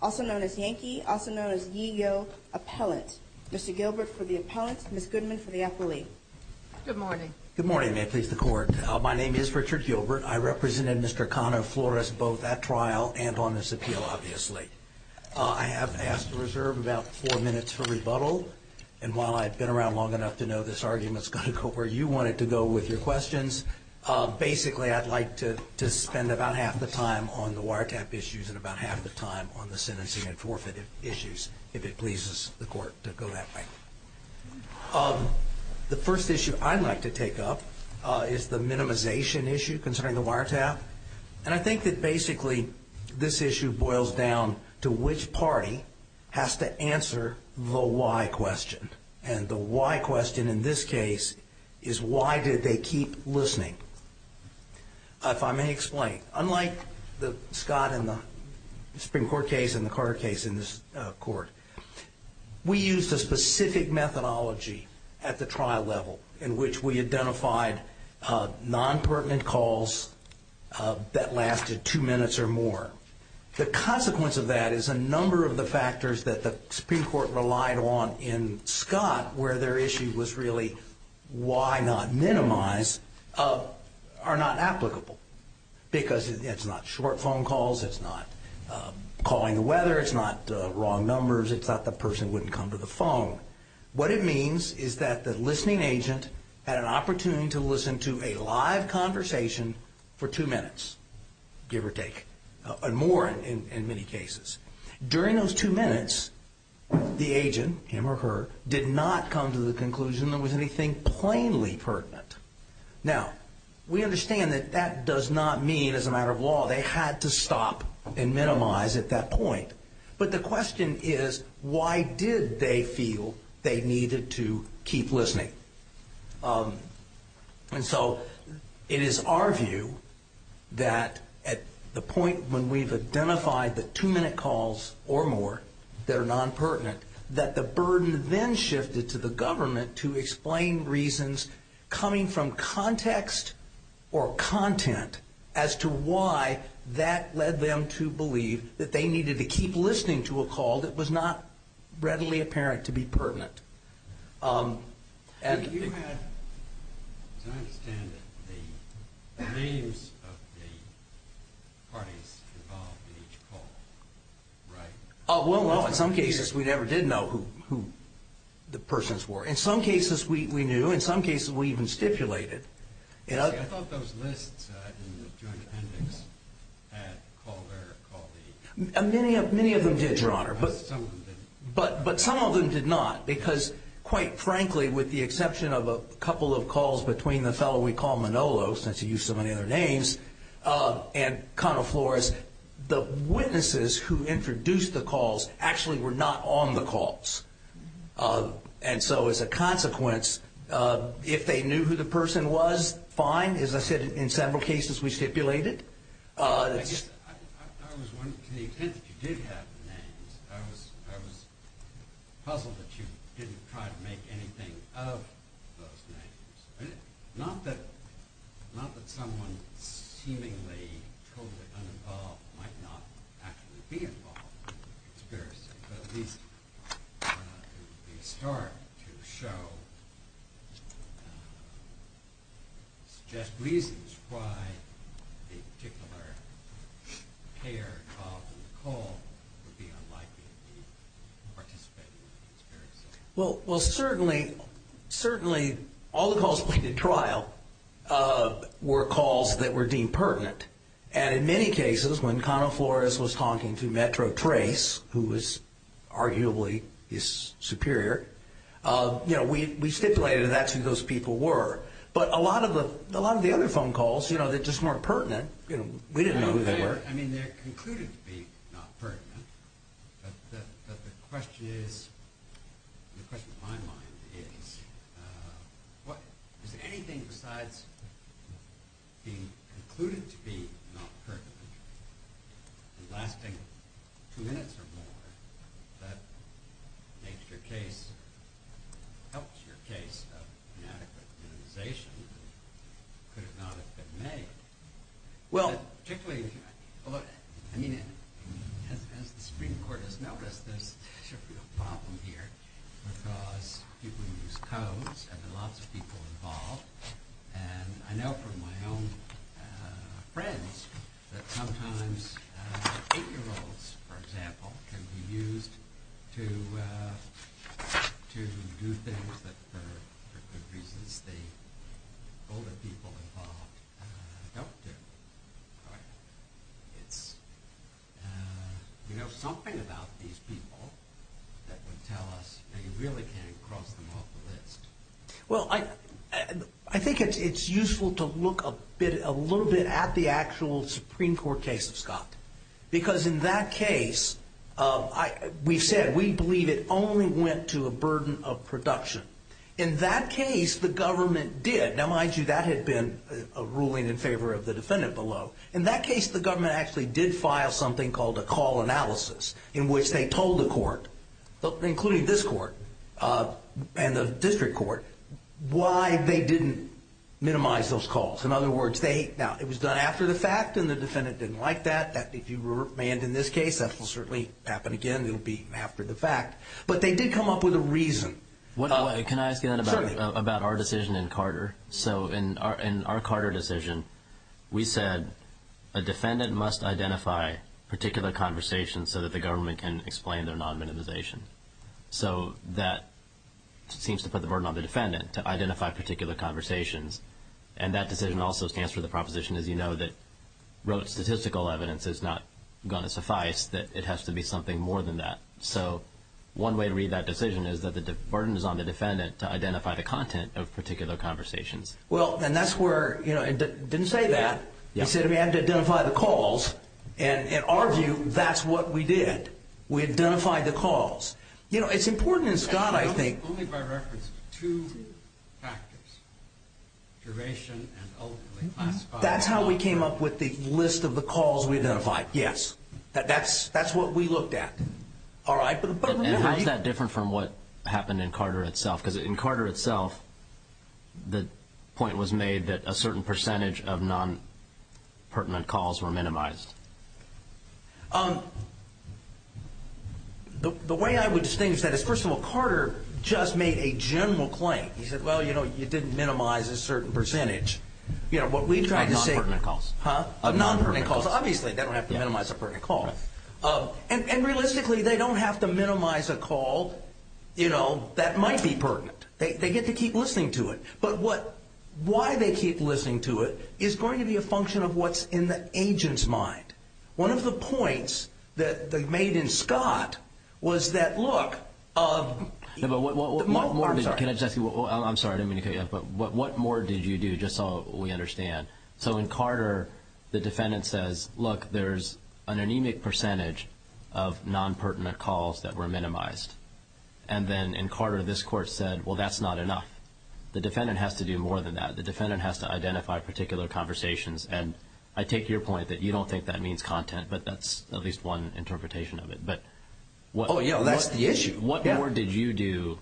also known as Yankee, also known as Yigo Appellant. Mr. Gilbert for the Appellant, Ms. Goodman for the Appellee. Good morning. Good morning, and may it please the Court. My name is Richard Gilbert. I represented Mr. Cano-Flores both at trial and on this appeal, obviously. I have asked to reserve about four minutes for rebuttal, and while I've been around the long enough to know this argument's going to go where you want it to go with your questions, basically I'd like to spend about half the time on the wiretap issues and about half the time on the sentencing and forfeit issues, if it pleases the Court to go that way. The first issue I'd like to take up is the minimization issue concerning the wiretap, and I think that basically this issue boils down to which party has to answer the why question, and the why question in this case is why did they keep listening? If I may explain, unlike the Scott and the Supreme Court case and the Carter case in this Court, we used a specific methodology at the trial level in which we identified non-pertinent calls that lasted two minutes or more. The consequence of that is a number of the factors that the Scott where their issue was really why not minimize are not applicable because it's not short phone calls, it's not calling the weather, it's not wrong numbers, it's not the person wouldn't come to the phone. What it means is that the listening agent had an opportunity to listen to a live conversation for two minutes, give or take, and more in many cases. During those two minutes, the agent, him or her, did not come to the conclusion there was anything plainly pertinent. Now, we understand that that does not mean as a matter of law they had to stop and minimize at that point, but the question is why did they feel they needed to keep listening? And so it is our view that at the point when we've identified the two minutes or more that are non-pertinent, that the burden then shifted to the government to explain reasons coming from context or content as to why that led them to believe that they needed to keep listening to a call that was not readily apparent to be pertinent. And you had, as I understand it, the names of the parties involved in each call, right? Well, no, in some cases we never did know who the persons were. In some cases we knew, in some cases we even stipulated. I thought those lists in the Joint Appendix had Calder, Caldee. Many of them did, Your Honor, but some of them did not because, quite frankly, with the exception of a couple of calls between the fellow we call Manolo, since he used so many calls, actually were not on the calls. And so as a consequence, if they knew who the person was, fine. As I said, in several cases we stipulated. I was wondering, to the extent that you did have the names, I was puzzled that you didn't try to make anything of those names. Not that someone seemingly totally uninvolved might be experiencing, but at least, Your Honor, it would be a start to show, suggest reasons why a particular payer involved in the call would be unlikely to be participating in the experience. Well, certainly, certainly all the calls we did trial were calls that were deemed pertinent. And in many cases, when Connell Flores was talking to Metro Trace, who was arguably his superior, we stipulated that's who those people were. But a lot of the other phone calls, they're just more pertinent. We didn't know who they were. I mean, they're concluded to be not pertinent, but the question is, the question in my mind is, is there anything besides being concluded to be not pertinent, lasting two minutes or more, that makes your case, helps your case of inadequate immunization, could it not have been made? Well, particularly, I mean, as the Supreme Court has noticed, there's a real problem here because people use codes, and there are lots of people involved. And I know from my own friends that sometimes 8-year-olds, for example, can be used to do things that, for good reasons, the older people involved don't do. It's, you know, something about these people that would tell us that you really can't cross them off the list. Well, I think it's useful to look a little bit at the actual Supreme Court case of Scott. Because in that case, we've said we believe it only went to a burden of production. In that case, the government did. Now, mind you, that had been a ruling in favor of the defendant below. In that case, the government actually did file something called a call analysis, in which they told the court, including this court and the district court, why they didn't minimize those calls. In other words, now, it was done after the fact, and the defendant didn't like that. If you were manned in this case, that will certainly happen again. It will be after the fact. But they did come up with a reason. Can I ask you then about our decision in Carter? So, in our Carter decision, we said a defendant must identify particular conversations so that the government can explain their non-minimization. So, that seems to put the burden on the defendant, to identify particular conversations. And that decision also stands for the proposition, as you know, that wrote statistical evidence is not going to suffice, that it has to be something more than that. So, one way to read that decision is that the burden is on the defendant to identify the content of particular conversations. Well, and that's where, you know, it didn't say that. It said we had to identify the calls, and in our view, that's what we did. We identified the calls. You know, it's important in Scott, I think... Only by reference to two factors, duration and ultimately classified... That's how we came up with the list of the calls we identified, yes. That's what we And how is that different from what happened in Carter itself? Because in Carter itself, the point was made that a certain percentage of non-pertinent calls were minimized. The way I would distinguish that is, first of all, Carter just made a general claim. He said, well, you know, you didn't minimize a certain percentage. Non-pertinent calls. Non-pertinent calls. Obviously, they don't have to minimize a pertinent call. And realistically, they don't have to minimize a call, you know, that might be pertinent. They get to keep listening to it. But why they keep listening to it is going to be a function of what's in the agent's mind. One of the points that they made in Scott was that, look... I'm sorry, I didn't mean to cut you off, but what more did you do, just so we percentage of non-pertinent calls that were minimized? And then in Carter, this court said, well, that's not enough. The defendant has to do more than that. The defendant has to identify particular conversations. And I take your point that you don't think that means content, but that's at least one interpretation of it. Oh, yeah, that's the issue. What more did you do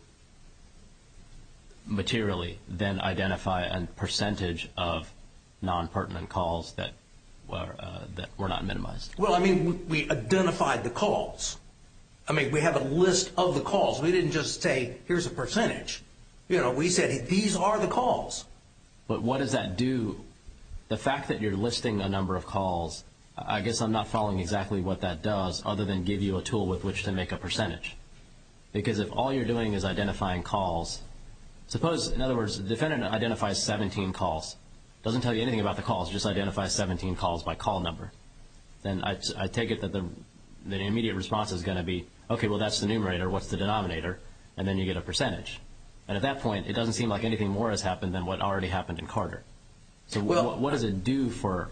materially than identify a percentage of non-pertinent calls that were not minimized? Well, I mean, we identified the calls. I mean, we have a list of the calls. We didn't just say, here's a percentage. You know, we said, these are the calls. But what does that do? The fact that you're listing a number of calls, I guess I'm not following exactly what that does, other than give you a tool with which to make a percentage. Because if all you're doing is identifying calls, suppose, in other words, the defendant identifies 17 calls, doesn't tell you anything about the calls, just identifies 17 calls by call number, then I take it that the immediate response is going to be, okay, well, that's the numerator. What's the denominator? And then you get a percentage. And at that point, it doesn't seem like anything more has happened than what already happened in Carter. So what does it do for,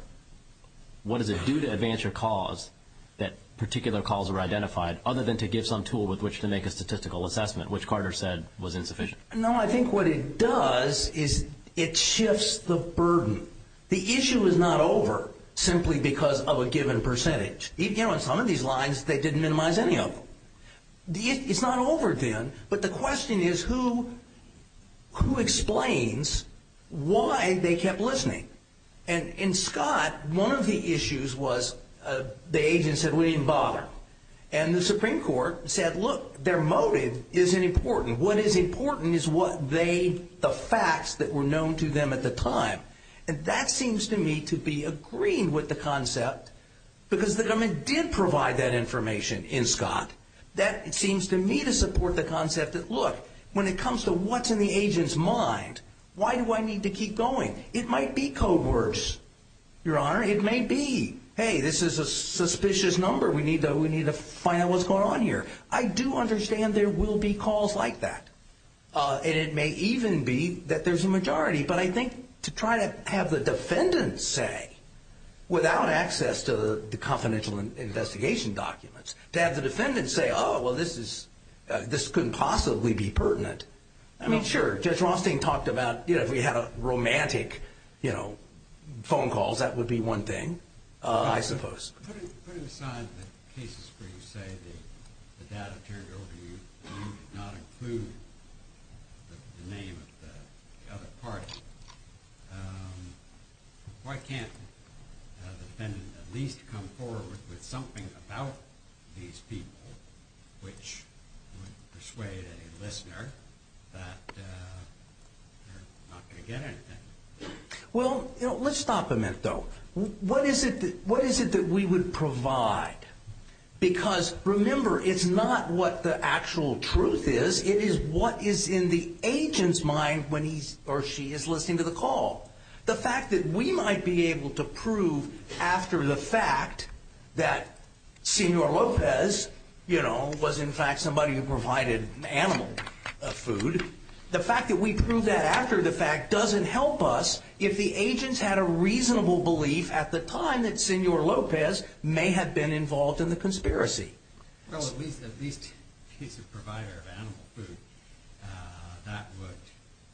what does it do to advance your cause that particular calls were identified, other than to give some tool with which to make a statistical assessment, which Carter said was insufficient? No, I think what it does is it shifts the burden. The issue is not over simply because of a given percentage. You know, in some of these lines, they didn't minimize any of them. It's not over then, but the question is, who explains why they kept listening? And in Scott, one of the issues was the agent said, we didn't bother. And the Supreme Court said, look, their motive isn't important. What is important is what they, the facts that were known to them at the time. And that seems to me to be agreeing with the concept, because the government did provide that information in Scott. That seems to me to support the concept that, look, when it comes to what's in the agent's mind, why do I need to keep going? It might be code words, Your Honor. It may be, hey, this is a suspicious number. We need to find out what's going on here. I do understand there will be calls like that. And it may even be that there's a majority. But I think to try to have the defendants say, without access to the confidential investigation documents, to have the defendants say, oh, well, this is, this couldn't possibly be pertinent. I mean, sure, Judge Rothstein talked about, you know, if we had romantic, you know, phone calls, that would be one thing, I suppose. Putting aside the cases where you say the data turned over to you and you did not include the name of the other party, why can't the defendant at least come forward with something about these people which would persuade a listener that they're not going to get anything? Well, let's stop a minute, though. What is it that we would provide? Because remember, it's not what the actual truth is. It is what is in the agent's mind when he or she is listening to the call. The fact that we might be able to prove after the fact that Senor Lopez, you know, was in fact somebody who provided animal food, the fact that we prove that after the fact doesn't help us if the agent's had a reasonable belief at the time that Senor Lopez may have been involved in the conspiracy. Well, at least if he's a provider of animal food,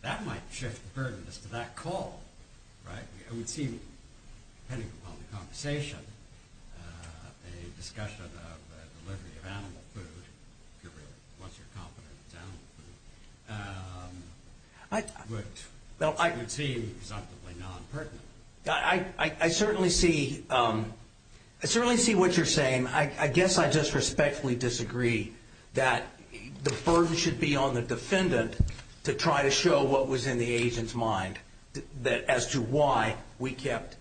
that might shift the burdens to that call, right? I would see, depending upon the conversation, a little bit different. I certainly see what you're saying. I guess I just respectfully disagree that the burden should be on the defendant to try to show what was in the agent's mind as to why we kept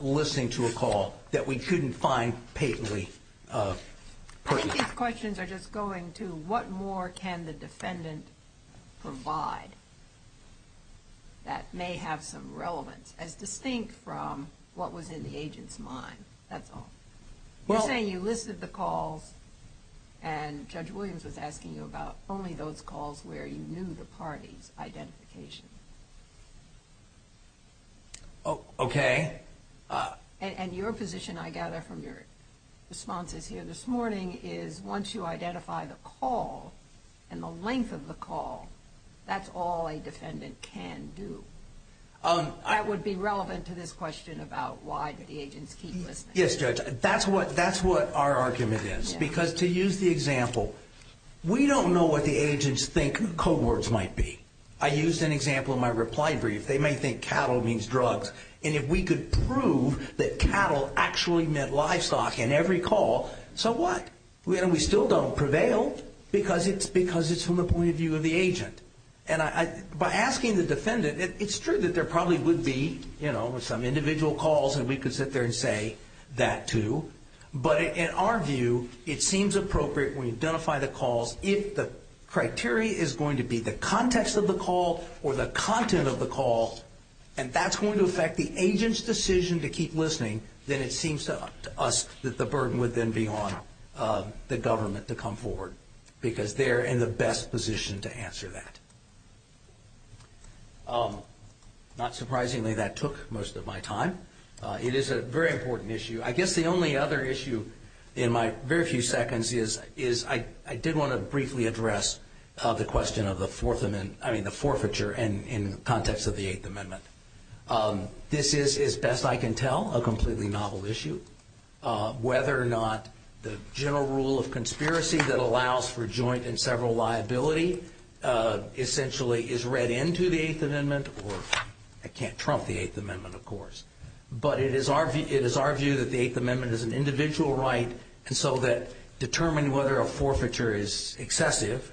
listening to a call that we couldn't find patently pertinent. I think these questions are just going to what more can the defendant provide that may have some relevance as distinct from what was in the agent's mind. That's all. You're saying you listed the calls and Judge Williams was asking you about only those calls where you knew the party's identification. Okay. And your position, I gather from your responses here this morning, is once you identify the call and the length of the call, that's all a defendant can do. That would be relevant to this question about why did the agents keep listening. Yes, Judge. That's what our argument is. Because to use the example, we don't know what the agents think code words might be. I used an example in my reply brief. They may think cattle means drugs. And if we could prove that cattle actually meant livestock in every call, so what? We still don't prevail because it's from the point of view of the agent. By asking the defendant, it's true that there probably would be some individual calls and we could sit there and say that, too. But in our view, it seems appropriate when we identify the calls if the criteria is going to be the context of the call or the content of the call and that's going to affect the agent's decision to keep listening, then it seems to us that the burden would then be on the government to come forward because they're in the best position to answer that. Not surprisingly, that took most of my time. It is a very important issue. I guess the only other issue in my very few seconds is I did want to briefly address the question of the forfeiture in the context of the Eighth Amendment. This is, as best I can tell, a completely novel issue. Whether or not the general rule of conspiracy that allows for joint and several liability essentially is read into the Eighth Amendment or I can't trump the Eighth Amendment, of course. But it is our view that the Eighth Amendment is not an alternative,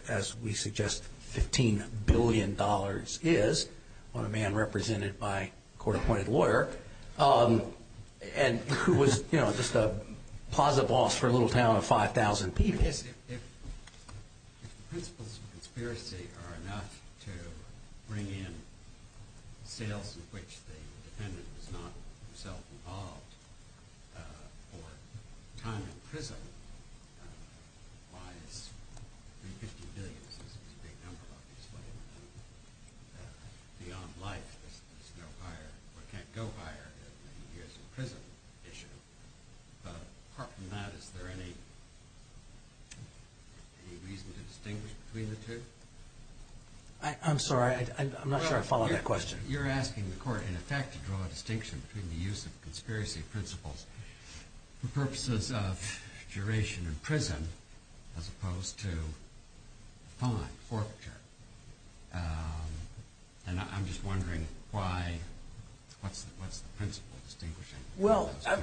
as we suggest $15 billion is on a man represented by a court-appointed lawyer and who was just a plaza boss for a little town of 5,000 people. If the principles of conspiracy are enough to bring in sales in which the defendant was not himself involved or time in prison, why is the $15 billion, which is a big number, beyond life? It can't go higher than the years in prison issue. Apart from that, is there any reason to distinguish between the two? I'm sorry. I'm not sure I follow that question. You're asking the court, in effect, to draw a distinction between the use of fine, forfeiture. I'm just wondering what's the principle of distinguishing between those two.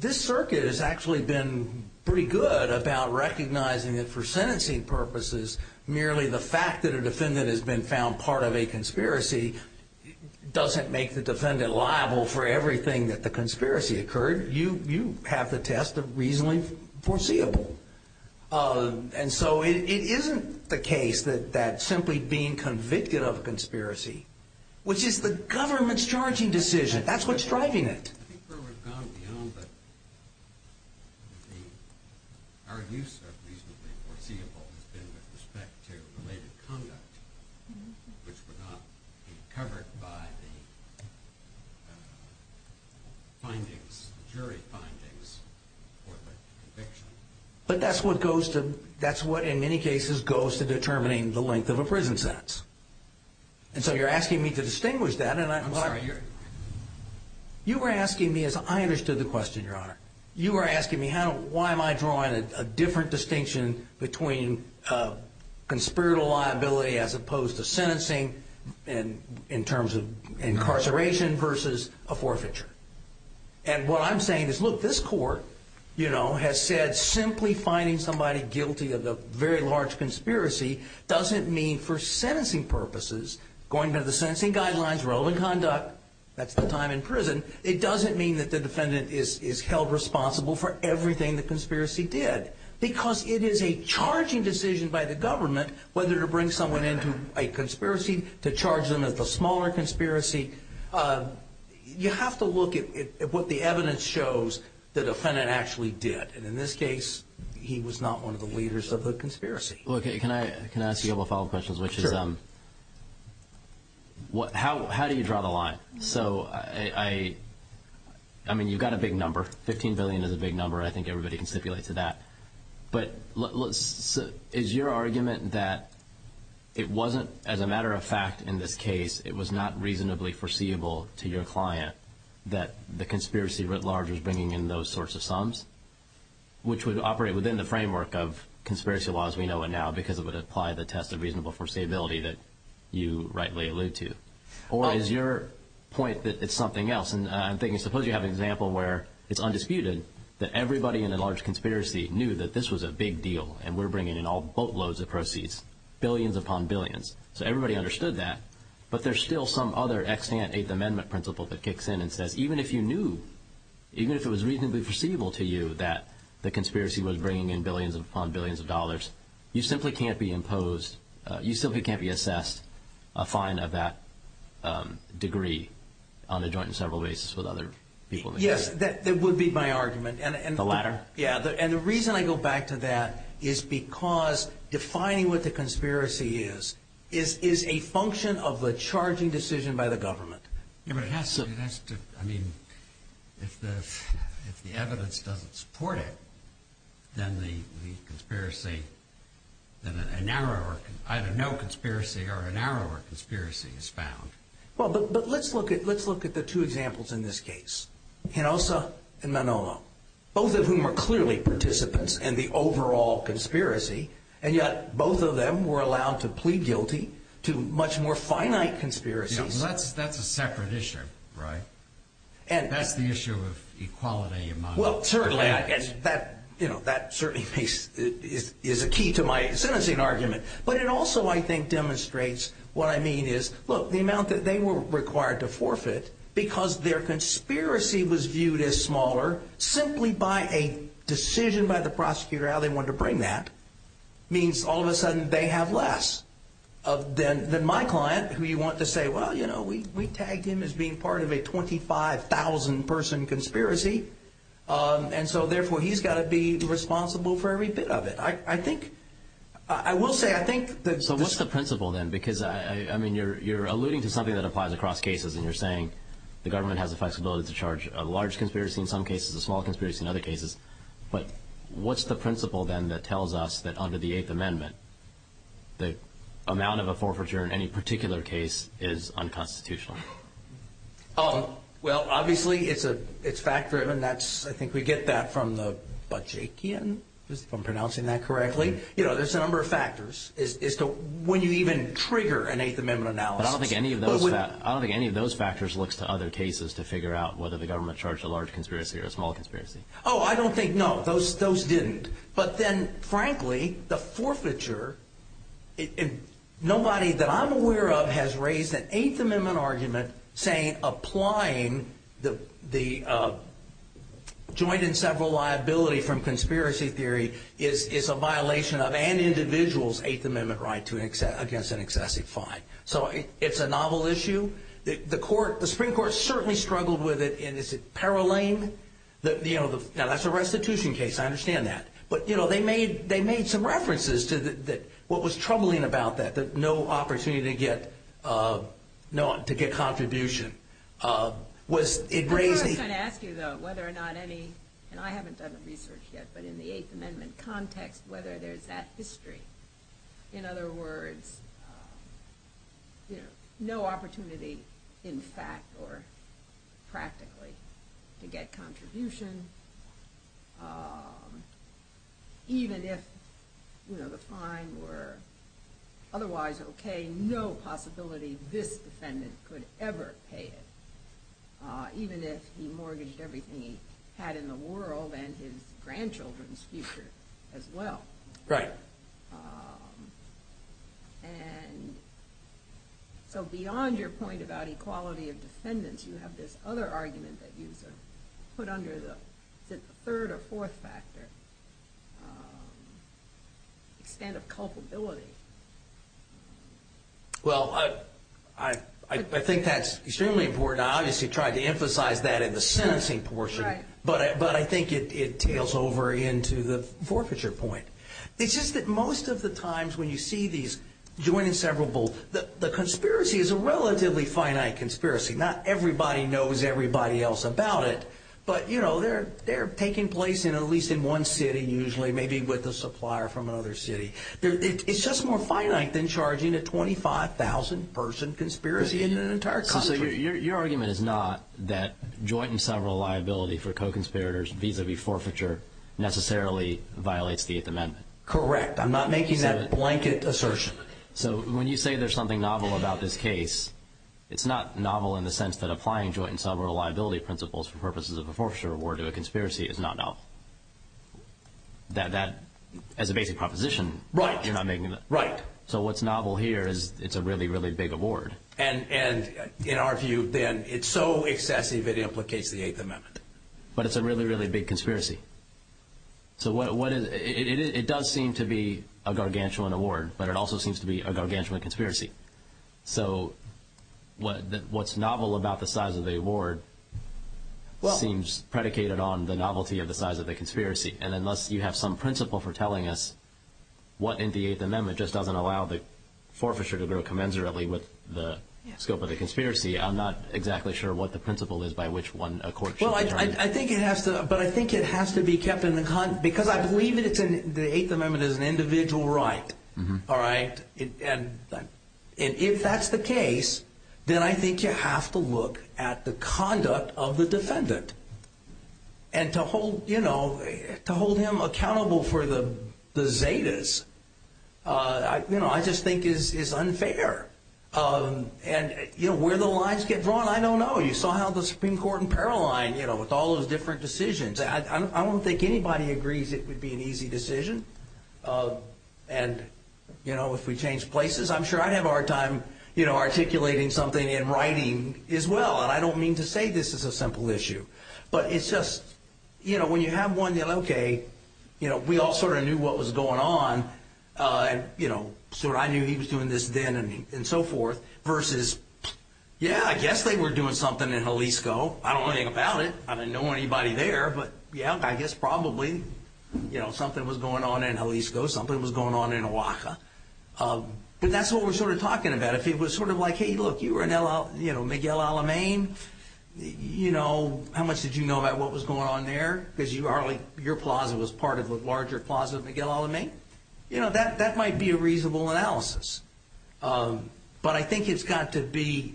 This circuit has actually been pretty good about recognizing that for sentencing purposes, merely the fact that a defendant has been found part of a conspiracy doesn't make the defendant liable for everything that the conspiracy occurred. You have the test of reasonably foreseeable. It isn't the case that simply being convicted of a conspiracy, which is the government's charging decision, that's what's driving it. I think we've gone beyond that. Our use of reasonably foreseeable has been with respect to related conduct, which would not be covered by the jury findings for the conviction. That's what, in many cases, goes to determining the length of a prison sentence. You're asking me to distinguish that. I understood the question, Your Honor. You were asking me, why am I drawing a different distinction between sentencing in terms of incarceration versus a forfeiture? What I'm saying is, look, this Court has said simply finding somebody guilty of a very large conspiracy doesn't mean for sentencing purposes, going by the sentencing guidelines, relevant conduct, that's the time in prison, it doesn't mean that the defendant is held responsible for everything the conspiracy did. Because it is a charging decision by the government whether to bring someone into a conspiracy, to charge them with a smaller conspiracy. You have to look at what the evidence shows the defendant actually did. In this case, he was not one of the leaders of the conspiracy. Can I ask you a couple of follow-up questions? How do you draw the line? So, I mean, you've got a big number. Fifteen billion is a big number. I think everybody can stipulate to that. But is your argument that it wasn't, as a matter of fact, in this case, it was not reasonably foreseeable to your client that the conspiracy writ large was bringing in those sorts of sums? Which would operate within the framework of conspiracy law as we know it now because it would apply the test of reasonable foreseeability that you rightly allude to? Or is your point that it's something else? And I'm thinking, suppose you have an example where it's undisputed that everybody in a large conspiracy knew that this was a big deal and we're bringing in all boatloads of proceeds, billions upon billions. So everybody understood that. But there's still some other extant Eighth Amendment principle that kicks in and says, even if you knew, even if it was reasonably foreseeable to you that the conspiracy was bringing in billions upon billions of dollars, you simply can't be imposed, you simply can't be assessed a fine of that degree on a joint and several basis with other people. Yes, that would be my argument. And the reason I go back to that is because defining what the conspiracy is is a function of the charging decision by the government. Yes, but it has to, I mean, if the evidence doesn't support it, then the conspiracy, then a narrower, either no conspiracy or a narrower conspiracy is found. Well, but let's look at the two examples in this case, Hinosa and Manolo, both of whom are clearly participants in the overall conspiracy, and yet both of them were allowed to plead guilty to much more finite conspiracies. That's a separate issue, right? And that's the issue of equality among. Well, certainly that, you know, that certainly is a key to my sentencing argument. But it also, I think, demonstrates what I mean is, look, the amount that they were required to forfeit because their conspiracy was viewed as smaller simply by a decision by the prosecutor how they wanted to bring that means all of a sudden they have less than my client, who you want to say, well, you know, we tagged him as being part of a 25,000-person conspiracy. And so, therefore, he's got to be responsible for every bit of it. So what's the principle then? Because, I mean, you're alluding to something that applies across cases, and you're saying the government has the flexibility to charge a large conspiracy in some cases, a small conspiracy in other cases. But what's the principle then that tells us that under the Eighth Amendment the amount of a forfeiture in any particular case is unconstitutional? Well, obviously it's fact-driven. I think we get that from the Bajekian, if I'm pronouncing that correctly. You know, there's a number of factors as to when you even trigger an Eighth Amendment analysis. But I don't think any of those factors looks to other cases to figure out whether the government charged a large conspiracy or a small conspiracy. Oh, I don't think, no, those didn't. But then, frankly, the forfeiture, nobody that I'm aware of has raised an Eighth Amendment argument saying applying the joint and several liability from conspiracy theory is a violation of an individual's Eighth Amendment right against an excessive fine. So it's a novel issue. The Supreme Court certainly struggled with it. Now, that's a restitution case. I understand that. But they made some references to what was troubling about that, that no opportunity to get contribution. I was going to ask you, though, whether or not any, and I haven't done the research yet, but in the Eighth Amendment context, whether there's that history. In other words, no opportunity in fact or practically to get contribution, even if the fine were otherwise okay, no possibility this defendant could ever pay it, even if he mortgaged everything he had in the world and his grandchildren's future as well. And so beyond your point about equality of defendants, you have this other argument that you put under the third or fourth factor, which is the extent of culpability. Well, I think that's extremely important. I obviously tried to emphasize that in the sentencing portion, but I think it tails over into the forfeiture point. It's just that most of the times when you see these joint and several, the conspiracy is a relatively finite conspiracy. Not everybody knows everybody else about it, but they're taking place at least in one city usually, maybe with a supplier from another city. It's just more finite than charging a 25,000-person conspiracy in an entire country. So your argument is not that joint and several liability for co-conspirators vis-à-vis forfeiture necessarily violates the Eighth Amendment? Correct. I'm not making that blanket assertion. So when you say there's something novel about this case, it's not novel in the sense that applying joint and several liability principles for purposes of a forfeiture award to a conspiracy is not novel. As a basic proposition, you're not making that. So what's novel here is it's a really, really big award. And in our view, then, it's so excessive it implicates the Eighth Amendment. But it's a really, really big conspiracy. It does seem to be a gargantuan award, but it also seems to be a gargantuan conspiracy. So what's novel about the size of the award seems predicated on the novelty of the size of the conspiracy. And unless you have some principle for telling us what in the Eighth Amendment just doesn't allow the forfeiture to grow commensurately with the scope of the conspiracy, I'm not exactly sure what the principle is by which one a court should determine. But I think it has to be kept in the—because I believe the Eighth Amendment is an individual right. And if that's the case, then I think you have to look at the conduct of the defendant. And to hold him accountable for the Zetas, I just think is unfair. And where the lines get drawn, I don't know. You saw how the Supreme Court in Paralline, with all those different decisions, I don't think anybody agrees it would be an easy decision. And if we change places, I'm sure I'd have a hard time articulating something in writing as well. And I don't mean to say this is a simple issue. But it's just, when you have one, okay, we all sort of knew what was going on. I knew he was doing this then and so forth. Versus, yeah, I guess they were doing something in Jalisco. I don't know anything about it. I didn't know anybody there. But yeah, I guess probably something was going on in Jalisco. Something was going on in Oaxaca. But that's what we're sort of talking about. If it was sort of like, hey, look, you were in Miguel Alamein, how much did you know about what was going on there? Because your plaza was part of a larger plaza of Miguel Alamein. That might be a reasonable analysis. But I think it's got to be,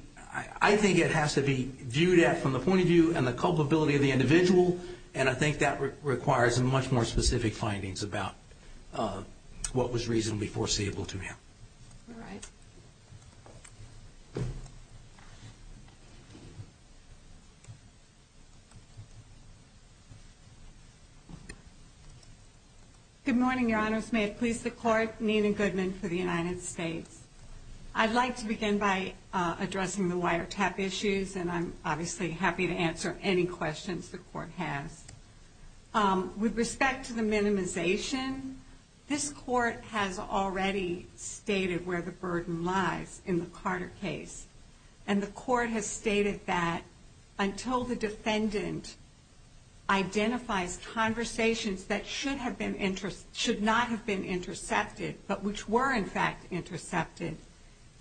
I think it has to be viewed at from the point of view and the culpability of the individual. And I think that requires much more specific findings about what was reasonably foreseeable to him. All right. Good morning, Your Honors. May it please the Court. Nina Goodman for the United States. I'd like to begin by addressing the wiretap issues. And I'm obviously happy to answer any questions the Court has. With respect to the minimization, this Court has already stated where the burden lies in the Carter case. And the Court has stated that until the defendant identifies conversations that should not have been intercepted, but which were in fact intercepted,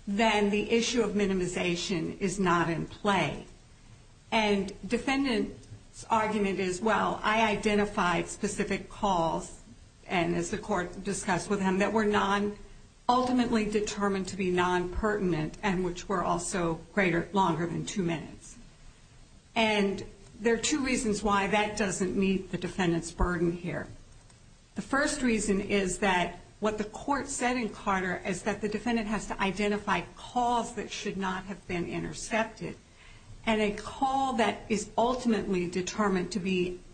then the issue of minimization is not in play. And defendant's argument is, well, I identified specific calls, and as the Court discussed with him, that were ultimately determined to be non-pertinent and which were also longer than two minutes. And there are two reasons why that doesn't meet the defendant's burden here. The first reason is that what the Court said in Carter is that the defendant has to identify calls that should not have been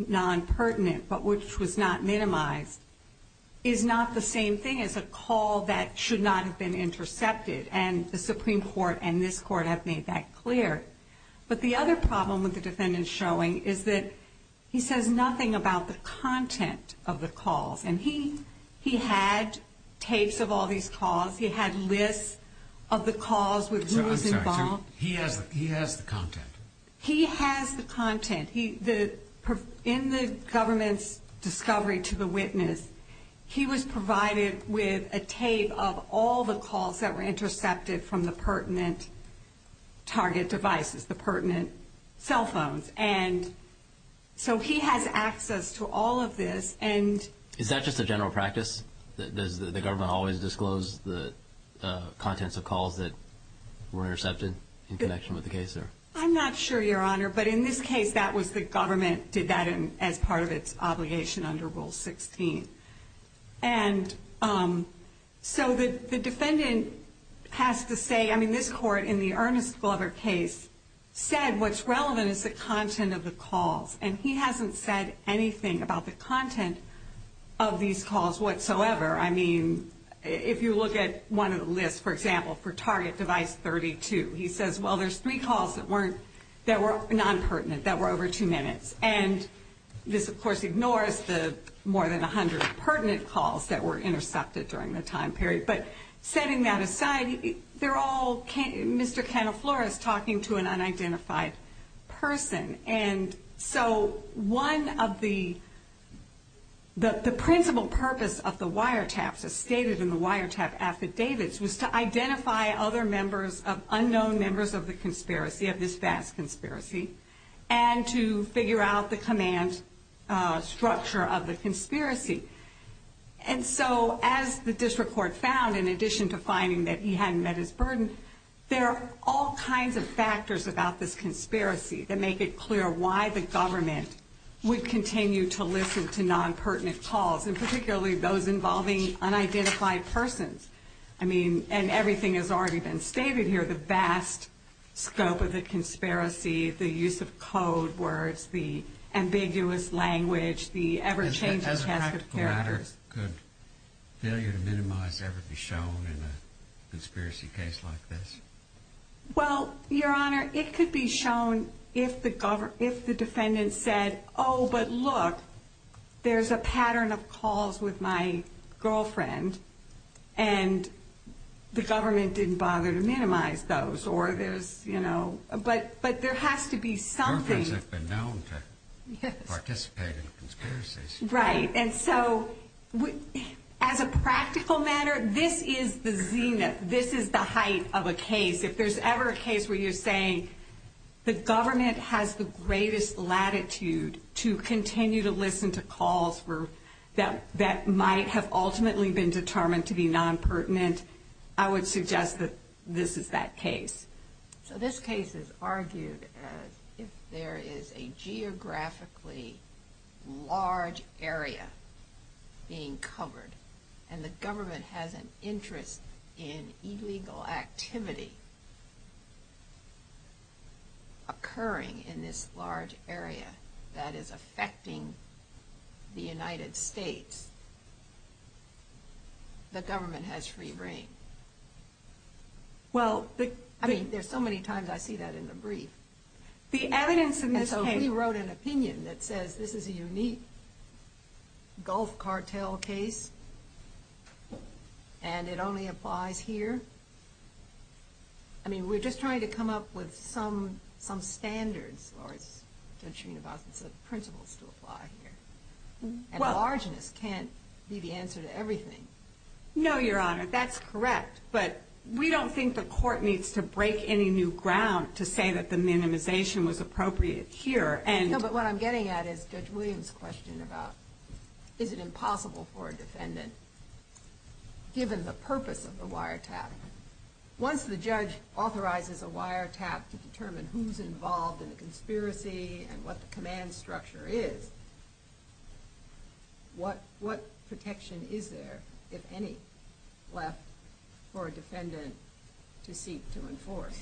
non-pertinent, but which was not minimized, is not the same thing as a call that should not have been intercepted. And the Supreme Court and this Court have made that clear. But the other problem with the defendant's showing is that he says nothing about the content of the calls. And he had tapes of all these calls. He had lists of the calls with who was involved. He has the content. In the government's discovery to the witness, he was provided with a tape of all the calls that were intercepted from the pertinent target devices, the pertinent cell phones. And so he has access to all of this. Is that just a general practice? Does the government always disclose the contents of calls that were intercepted in connection with the case? I'm not sure, Your Honor. But in this case, that was the government did that as part of its obligation under Rule 16. And so the defendant has to say, I mean, this Court in the Ernest Glover case said what's relevant is the content of the calls. And he hasn't said anything about the content of these calls whatsoever. I mean, if you look at one of the lists, for example, for target device 32, he says, well, there's three calls that were non-pertinent, that were over two minutes. And this, of course, ignores the more than 100 pertinent calls that were intercepted during the time period. But setting that aside, they're all Mr. Canofloros talking to an unidentified person. And so one of the principal purpose of the wiretaps, as stated in the wiretap affidavits, was to identify other members of unknown members of the conspiracy, of this vast conspiracy, and to figure out the command structure of the conspiracy. And so as the district court found, in addition to finding that he hadn't met his burden, there are all kinds of factors about this conspiracy that make it clear why the government would continue to listen to non-pertinent calls, and particularly those involving unidentified persons. I mean, and everything has already been stated here. The vast scope of the conspiracy, the use of code words, the ambiguous language, the ever-changing task of characters. Could failure to minimize ever be shown in a conspiracy case like this? Well, Your Honor, it could be shown if the defendant said, oh, but look, there's a pattern of calls with my girlfriend, and the government didn't bother to minimize those. But there has to be something. Girlfriends have been known to participate in conspiracies. Right, and so as a practical matter, this is the height of a case. If there's ever a case where you're saying the government has the greatest latitude to continue to listen to calls that might have ultimately been determined to be non-pertinent, I would suggest that this is that case. So this case is argued as if there is a geographically large area being covered, and the government has an interest in illegal activity occurring in this large area that is affecting the United States. The government has free reign. I mean, there's so many times I see that in the brief. And so we wrote an opinion that says this is a unique gulf cartel case, and it only applies here. I mean, we're just trying to come up with some standards, or as Judge Srinivasan said, principles to apply here. And largeness can't be the answer to everything. No, Your Honor, that's correct. But we don't think the court needs to break any new ground to say that the minimization was appropriate here. No, but what I'm getting at is Judge Williams' question about is it impossible for a defendant, given the purpose of the wiretap. Once the judge authorizes a wiretap to determine who's involved in the conspiracy and what the command structure is, what protection is there, if any, left for a defendant to seek to enforce?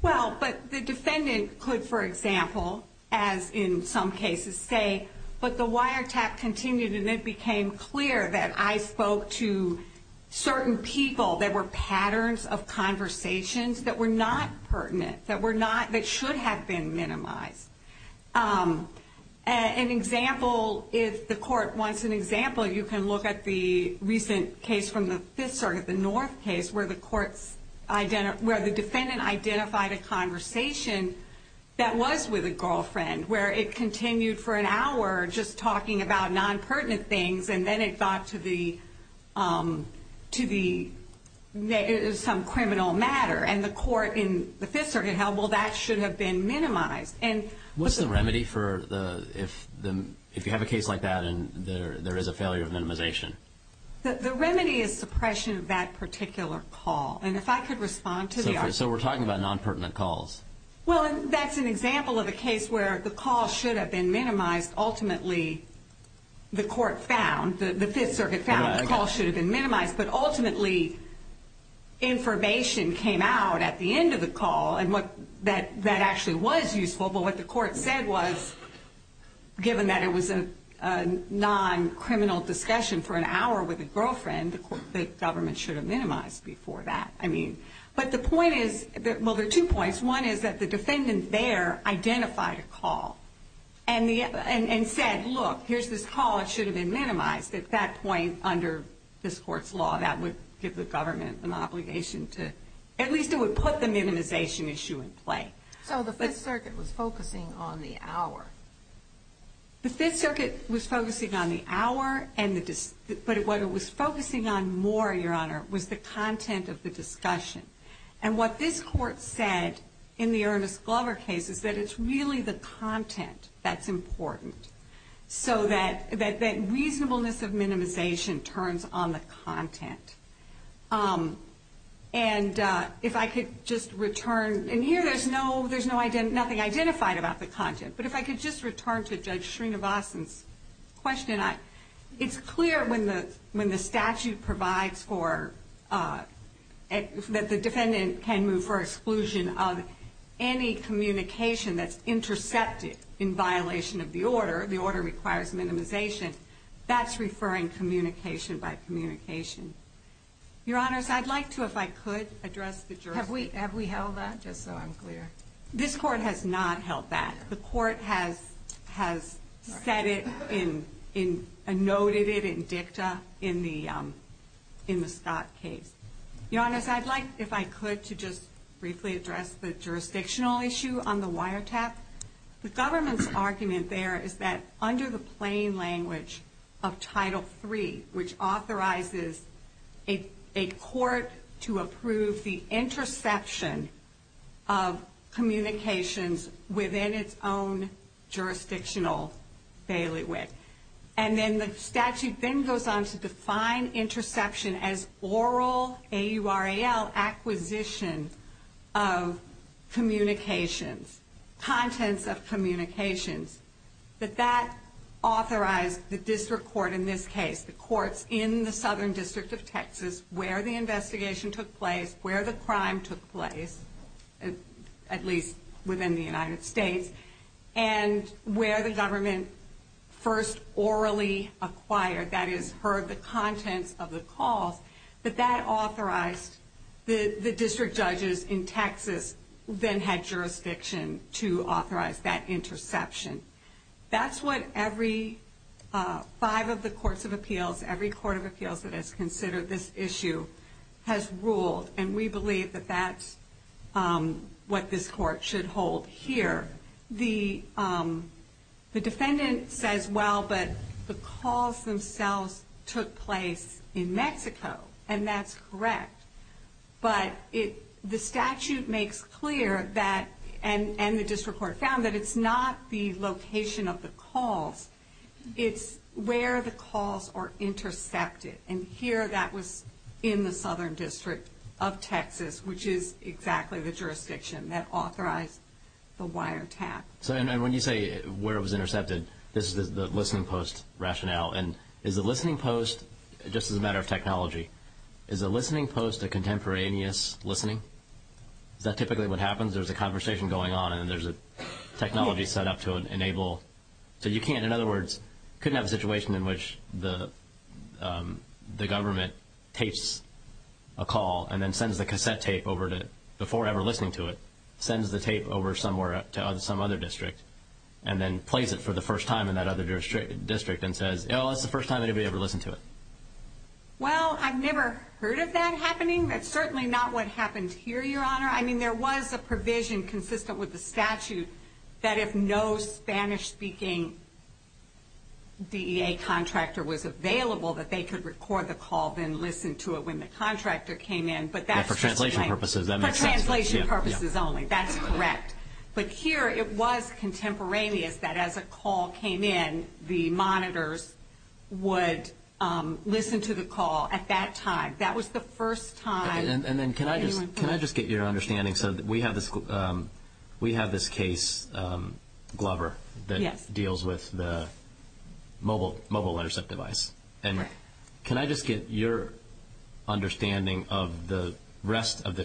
Well, but the defendant could, for example, as in some cases, say, but the wiretap continued, and it became clear that I spoke to certain people. There were patterns of conversations that were not pertinent, that should have been minimized. An example, if the court wants an example, you can look at the recent case from the Fifth Circuit, the North case, where the defendant identified a conversation that was with a girlfriend, where it continued for an hour just talking about non-pertinent things, and then it got to the some criminal matter. And the court in the Fifth Circuit held, well, that should have been minimized. What's the remedy for if you have a case like that, and there is a failure of minimization? The remedy is suppression of that particular call. So we're talking about non-pertinent calls. Well, that's an example of a case where the call should have been minimized. Ultimately, the court found, the Fifth Circuit found the call should have been minimized, but ultimately information came out at the end of the call that actually was useful. But what the court said was, given that it was a non-criminal discussion for an hour with a girlfriend, the government should have minimized before that. But the point is, well, there are two points. One is that the defendant there identified a call and said, look, here's this call, it should have been minimized. At that point, under this court's law, that would give the government an obligation to, at least it would put the minimization issue in play. So the Fifth Circuit was focusing on the hour. The Fifth Circuit was focusing on the hour, but what it was focusing on more, Your Honor, was the content of the discussion. And what this court said in the Ernest case was that the content of the discussion was important, so that reasonableness of minimization turns on the content. And if I could just return, and here there's nothing identified about the content, but if I could just return to Judge Srinivasan's question, it's clear when the statute provides for, that the defendant can move for exclusion of any communication that's intercepted in violation of the order, the order requires minimization, that's referring communication by communication. Your Honors, I'd like to, if I could, address the jurisdiction. Have we held that, just so I'm clear? This court has not held that. The court has said it and noted it in dicta in the Scott case. Your Honors, I'd like, if I could, to just briefly address the jurisdictional issue on the wiretap. The government's argument there is that under the plain language of Title III, which authorizes a court to approve the interception of communications within its own jurisdictional bailiwick. And then the statute then goes on to define interception as oral, A-U-R-A-L, acquisition of communications, contents of communications, that that authorized the district court in this case, the courts in the Southern District of Texas, where the investigation took place, where the crime took place, at least within the United States, and where the government first orally acquired, that is, heard the contents of the calls, that that authorized the district judges in Texas, then had jurisdiction to authorize that interception. That's what every five of the courts of appeals, every court of appeals that has considered this issue, has ruled. And we believe that that's what this court should hold here. The defendant says, well, but the calls themselves took place in Mexico. And that's correct. But the statute makes clear that, and the district court found that it's not the location of the calls. It's where the calls are intercepted. And here that was in the Southern District of Texas, which is exactly the jurisdiction that authorized the wiretap. And when you say where it was intercepted, this is the listening post rationale. And is a listening post, just as a matter of technology, is a listening post a contemporaneous listening? Is that typically what happens? There's a conversation going on and there's a technology set up to enable. So you can't, in other words, couldn't have a situation in which the government takes a call and then sends the cassette tape over to, before ever listening to it, sends the tape over somewhere to some other district, and then plays it for the first time in that other district and says, oh, that's the first time anybody ever listened to it. Well, I've never heard of that happening. That's certainly not what happened here, Your Honor. I mean, there was a provision consistent with the statute that if no Spanish-speaking DEA contractor was available, that they could record the call, then whether it was contemporaneous, that as a call came in, the monitors would listen to the call at that time. That was the first time. And then can I just get your understanding? So we have this case, Glover, that deals with the mobile intercept device. And can I just get your understanding of the rest of the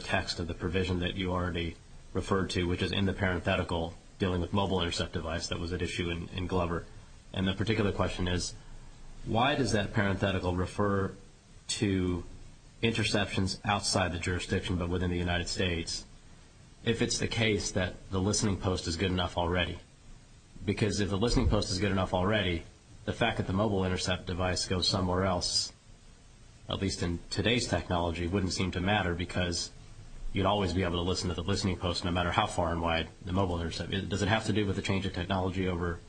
dealing with mobile intercept device that was at issue in Glover? And the particular question is, why does that parenthetical refer to interceptions outside the jurisdiction, but within the United States, if it's the case that the listening post is good enough already? Because if the listening post is good enough already, the fact that the mobile intercept device goes somewhere else, at least in today's technology, wouldn't seem to matter because you'd always be able to listen to the listening post, no matter how far and wide the mobile intercept is. Does it have to do with the change of technology over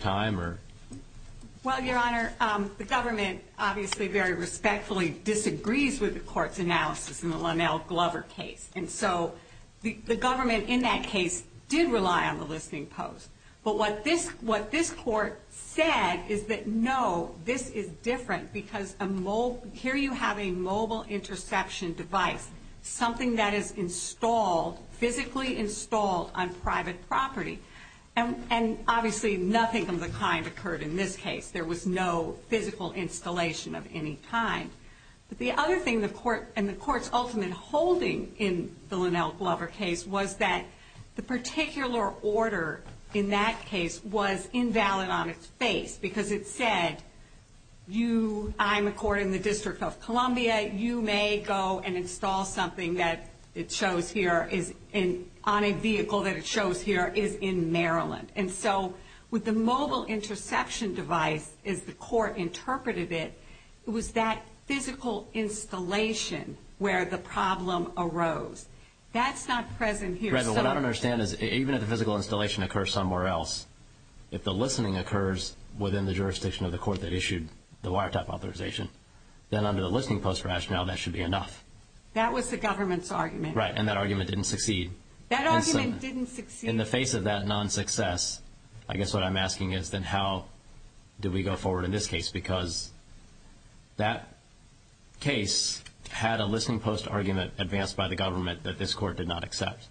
time? Well, Your Honor, the government obviously very respectfully disagrees with the court's analysis in the Lonell Glover case. And so the government in that case did rely on the listening post. But what this court said is that, no, this is different because here you have a mobile interception device, something that is installed, physically installed on private property. And obviously nothing of the kind occurred in this case. There was no physical installation of any kind. But the other thing the court, and the court's ultimate holding in the Lonell Glover case, was that the particular order in that case was invalid on its face. Because it said, you, I'm a court in the District of Columbia, you may go and install something that it shows here is on a vehicle that it shows here is in Maryland. And so with the mobile interception device, as the court interpreted it, it was that physical installation where the problem arose. That's not present here. What I don't understand is, even if the physical installation occurs somewhere else, if the listening post rationale, that should be enough. That was the government's argument. Right. And that argument didn't succeed. That argument didn't succeed. In the face of that non-success, I guess what I'm asking is, then how did we go forward in this case? Because that case had a listening post argument advanced by the government that this court did not accept.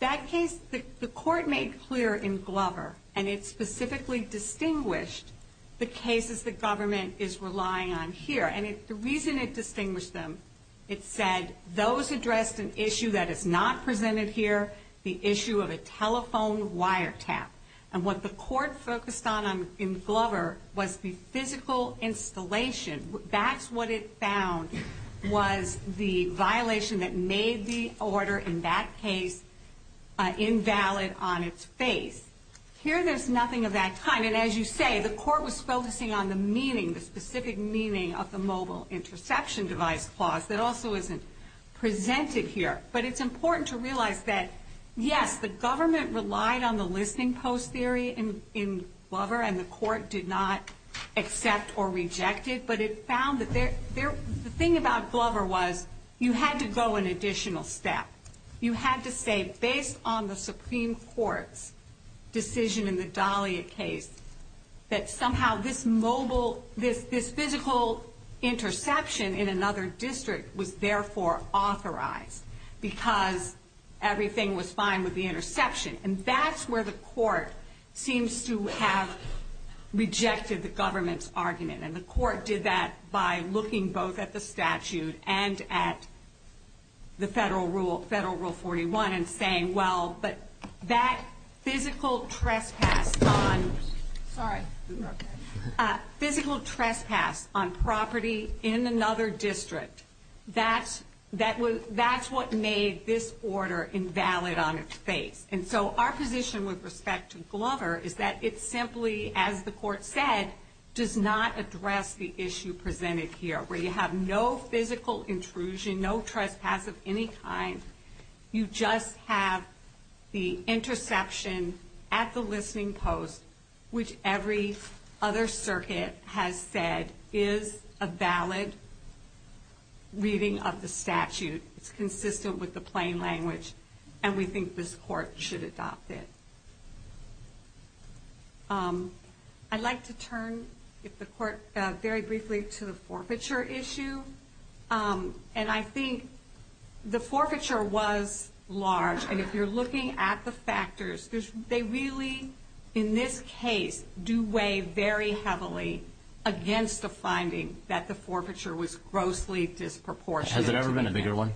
That case, the court made clear in Glover, and it specifically distinguished the cases the government is relying on here. And the reason it distinguished them, it said those addressed an issue that is not presented here, the issue of a telephone wiretap. And what the court focused on in Glover was the physical installation of the mobile interception device. That's what it found was the violation that made the order in that case invalid on its face. Here there's nothing of that kind. And as you say, the court was focusing on the meaning, the specific meaning of the mobile interception device clause that also isn't presented here. But it's important to realize that, yes, the government relied on the listening post theory in Glover, and the court did not accept or reject it. But it found that the thing about Glover was you had to go an additional step. You had to say, based on the Supreme Court's decision in the Dahlia case, that somehow this mobile, this physical interception in another district was therefore authorized, because everything was fine with the interception. And that's where the court seems to have rejected the government's argument. And the court did that by looking both at the statute and at the federal rule, federal rule 41, and saying, well, but that physical trespass on, sorry, physical trespass on private property is not a violation. That physical trespass on private property in another district, that's what made this order invalid on its face. And so our position with respect to Glover is that it simply, as the court said, does not address the issue presented here, where you have no physical intrusion, no trespass of any kind. You just have the interception at the listening post, which every other circuit has said is a violation. It's a valid reading of the statute. It's consistent with the plain language, and we think this court should adopt it. I'd like to turn, if the court, very briefly to the forfeiture issue. And I think the forfeiture was large, and if you're looking at the factors, they really, in this case, do weigh very heavily against the finding that the forfeiture was grossly disproportionate. Has it ever been a bigger one?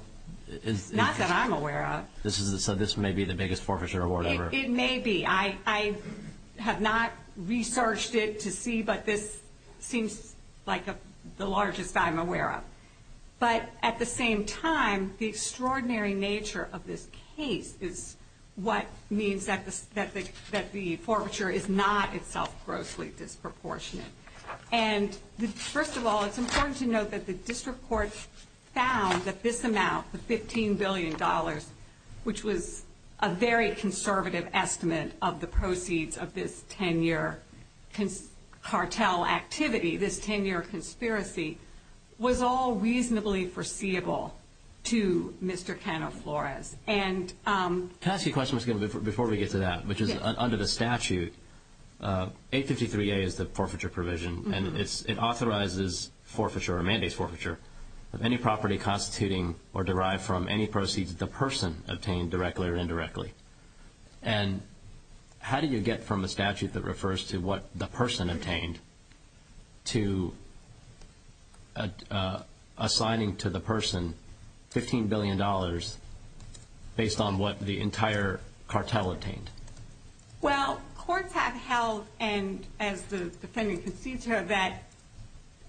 Not that I'm aware of. This may be the biggest forfeiture award ever. It may be. I have not researched it to see, but this seems like the largest I'm aware of. But at the same time, the extraordinary nature of this case is what means that the forfeiture is not itself grossly disproportionate. And first of all, it's important to note that the district court found that this amount, the $15 billion, which was a very conservative estimate of the proceeds of this 10-year cartel activity, this 10-year conspiracy, was all reasonably foreseeable to Mr. Canoflores. Can I ask you a question before we get to that, which is, under the statute, 853A is the forfeiture provision, and it authorizes forfeiture or mandates forfeiture of any property constituting or derived from any proceeds that the person obtained directly or indirectly. And how do you get from a statute that refers to what the person obtained to assigning to the person $15 billion based on what the entire cartel obtained? Well, courts have held, and as the defendant concedes here, that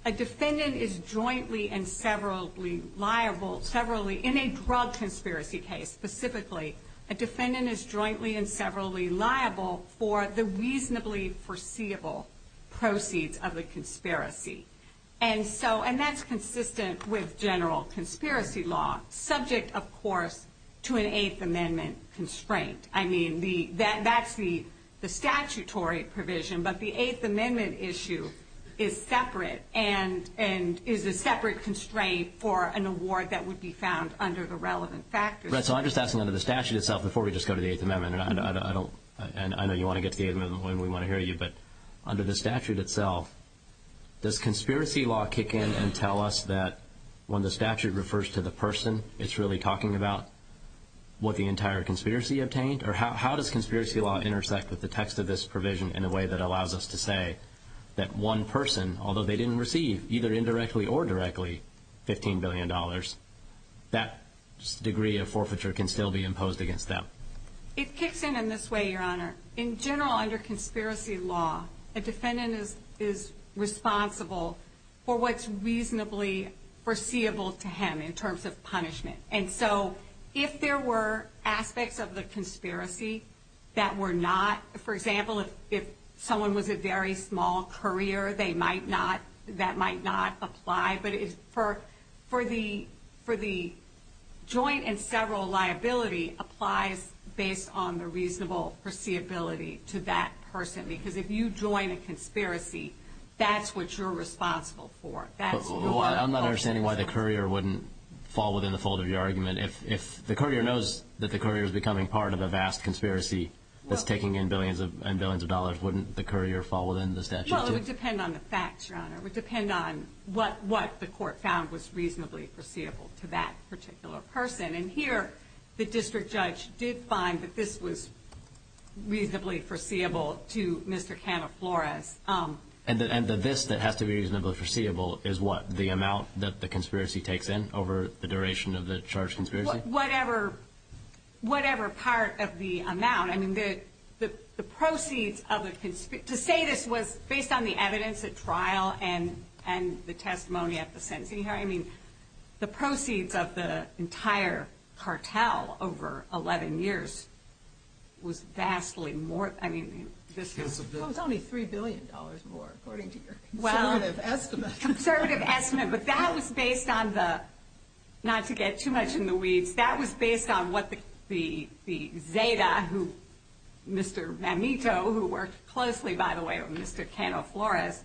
a defendant is jointly and severally liable, in a drug conspiracy case specifically, a defendant is jointly and severally liable for the reasonably foreseeable proceeds of the conspiracy. And that's consistent with general conspiracy law, subject, of course, to an Eighth Amendment constraint. I mean, that's the statutory provision, but the Eighth Amendment issue is separate and is a separate constraint for an award that would be found under the relevant factors. Right, so I'm just asking under the statute itself, before we just go to the Eighth Amendment, and I know you want to get to the Eighth Amendment when we want to hear you, but under the statute itself, does conspiracy law kick in and tell us that when the statute refers to the person, it's really talking about what the entire conspiracy obtained? Or how does conspiracy law intersect with the text of this provision in a way that allows us to say that one person, although they didn't receive, either indirectly or directly, $15 billion, that degree of forfeiture can still be imposed against them? It kicks in in this way, Your Honor. In general, under conspiracy law, a defendant is responsible for what's reasonably foreseeable to him in terms of punishment. And so if there were aspects of the conspiracy that were not, for example, if someone was a very small courier, that might not apply. But for the joint and several liability, applies based on the reasonable foreseeability to that person. Because if you join a conspiracy, that's what you're responsible for. I'm not understanding why the courier wouldn't fall within the fold of your argument. If the courier knows that the courier is becoming part of a vast conspiracy that's taking in billions and billions of dollars, wouldn't the courier fall within the statute, too? Well, it would depend on the facts, Your Honor. It would depend on what the court found was reasonably foreseeable to that particular person. And here, the district judge did find that this was reasonably foreseeable to Mr. Cannaflores. And the this that has to be reasonably foreseeable is what? The amount that the conspiracy takes in over the duration of the charged conspiracy? Whatever part of the amount. To say this was based on the evidence at trial and the testimony at the sentencing hearing, the proceeds of the entire cartel over 11 years was vastly more. It was only $3 billion more, according to your conservative estimate. But that was based on the, not to get too much in the weeds, that was based on what the Zeta, Mr. Mamito, who worked closely, by the way, with Mr. Cannaflores,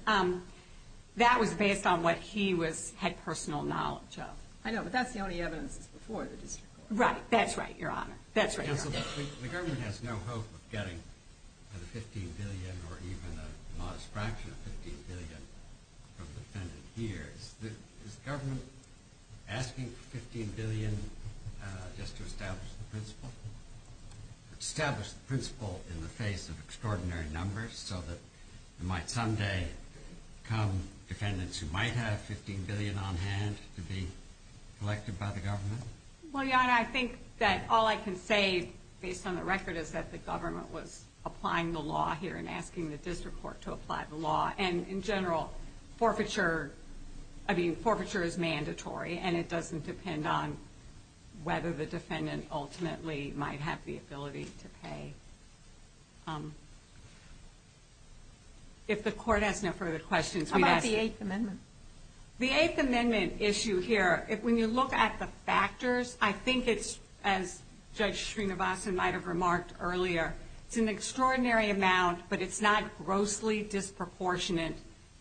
that was based on what he had personal knowledge of. I know, but that's the only evidence that's before the district court. Right, that's right, Your Honor. The government has no hope of getting another $15 billion or even a modest fraction of $15 billion from the defendant here. Is the government asking for $15 billion just to establish the principle? Establish the principle in the face of extraordinary numbers so that there might someday come defendants who might have $15 billion on hand to be collected by the government? Well, Your Honor, I think that all I can say, based on the record, is that the government was applying the law here and asking the district court to apply the law. And in general, forfeiture, I mean, forfeiture is mandatory, and it doesn't depend on whether the defendant ultimately might have the ability to pay. If the court has no further questions... How about the Eighth Amendment? The Eighth Amendment issue here, when you look at the factors, I think it's, as Judge Srinivasan might have remarked earlier, it's an extraordinary amount, but it's not grossly disproportionate,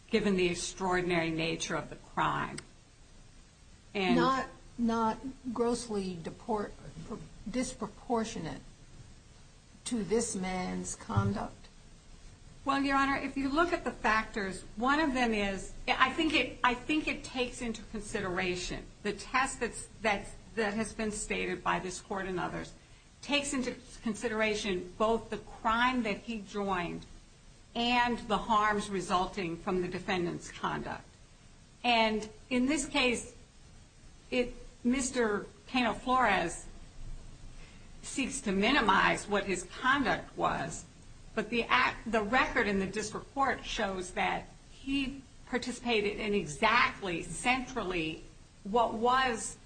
given the extraordinary nature of the crime. Not grossly disproportionate to this man's conduct? Well, Your Honor, if you look at the factors, one of them is... I think it takes into consideration the test that has been stated by this court and others. It takes into consideration both the crime that he joined and the harms resulting from the defendant's conduct. And in this case, Mr. Pena-Flores seeks to minimize what his conduct was, but the record in the district court shows that he participated in exactly, centrally, what was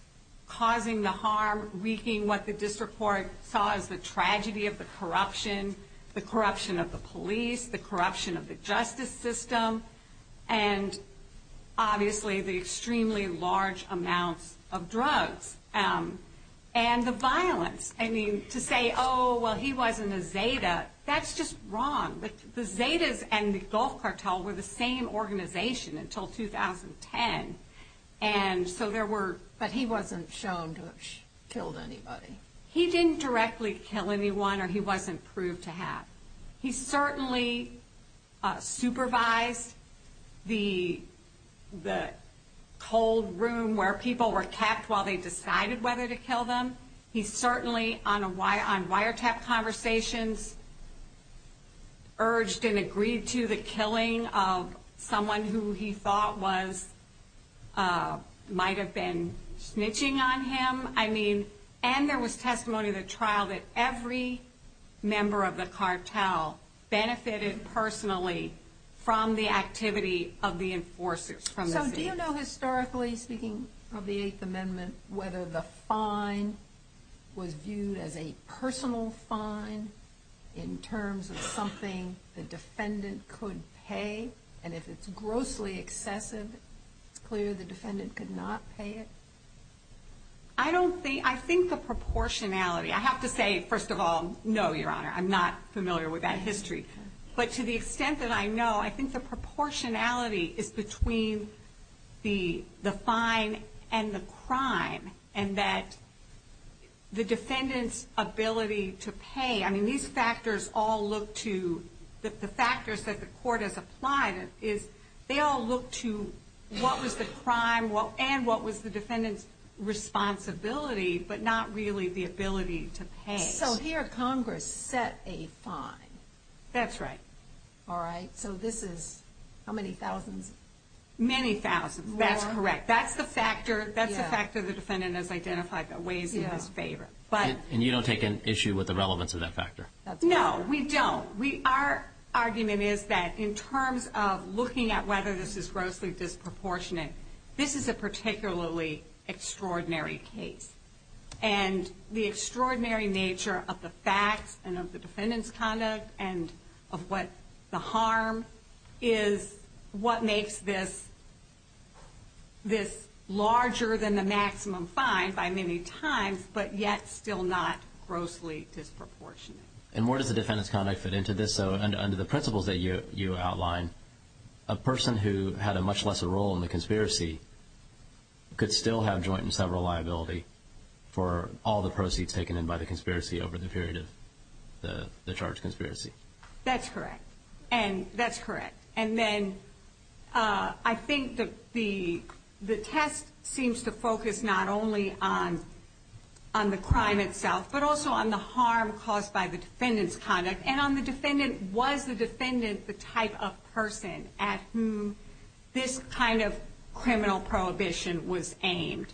causing the harm, wreaking what the district court saw as the tragedy of the corruption, the corruption of the police, the corruption of the justice system, and obviously, the extremely large amounts of drugs and the violence. I mean, to say, oh, well, he wasn't a Zeta, that's just wrong. The Zetas and the Gulf Cartel were the same organization until 2010. But he wasn't shown to have killed anybody? He didn't directly kill anyone, or he wasn't proved to have. He certainly supervised the cold room where people were kept while they decided whether to kill them. He certainly, on wiretap conversations, urged and agreed to the killing of someone who he thought might have been snitching on him. And there was testimony of the trial that every member of the cartel benefited personally from the activity of the enforcers from the Zetas. So do you know, historically speaking, of the Eighth Amendment, whether the fine was viewed as a personal fine in terms of something the defendant could pay? And if it's grossly excessive, it's clear the defendant could not pay it? I think the proportionality. I have to say, first of all, no, Your Honor, I'm not familiar with that history. But to the extent that I know, I think the proportionality is between the fine and the crime, and that the defendant's ability to pay. I mean, these factors all look to the factors that the court has applied. They all look to what was the crime and what was the defendant's responsibility, but not really the ability to pay. So here Congress set a fine? That's right. So this is how many thousands? Many thousands, that's correct. That's the factor the defendant has identified that weighs in his favor. And you don't take an issue with the relevance of that factor? No, we don't. Our argument is that in terms of looking at whether this is grossly disproportionate, this is a particularly extraordinary case. And the extraordinary nature of the facts and of the defendant's conduct and of what the harm is, what makes this larger than the maximum fine by many times, but yet still not grossly disproportionate. And where does the defendant's conduct fit into this? So under the principles that you outline, a person who had a much lesser role in the conspiracy could still have joint and several liability for all the proceeds taken in by the conspiracy over the period of the charged conspiracy? That's correct. And then I think the test seems to focus not only on the crime itself, but also on the harm caused by the defendant's conduct. And on the defendant, was the defendant the type of person at whom this kind of criminal prohibition was aimed?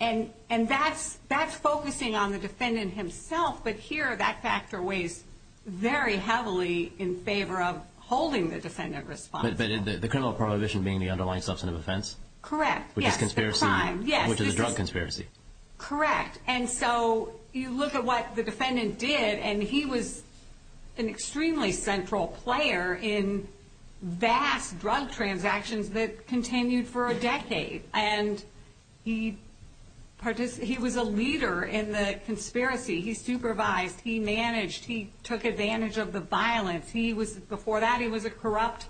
And that's focusing on the defendant himself, but here that factor weighs very heavily in favor of holding the defendant responsible. But the criminal prohibition being the underlying substance of offense? Correct. Yes. Which is a drug conspiracy. Correct. And so you look at what the defendant did, and he was an extremely central player in vast drug transactions that continued for a decade. And he was a leader in the conspiracy. He supervised, he managed, he took advantage of the violence. Before that, he was a corrupt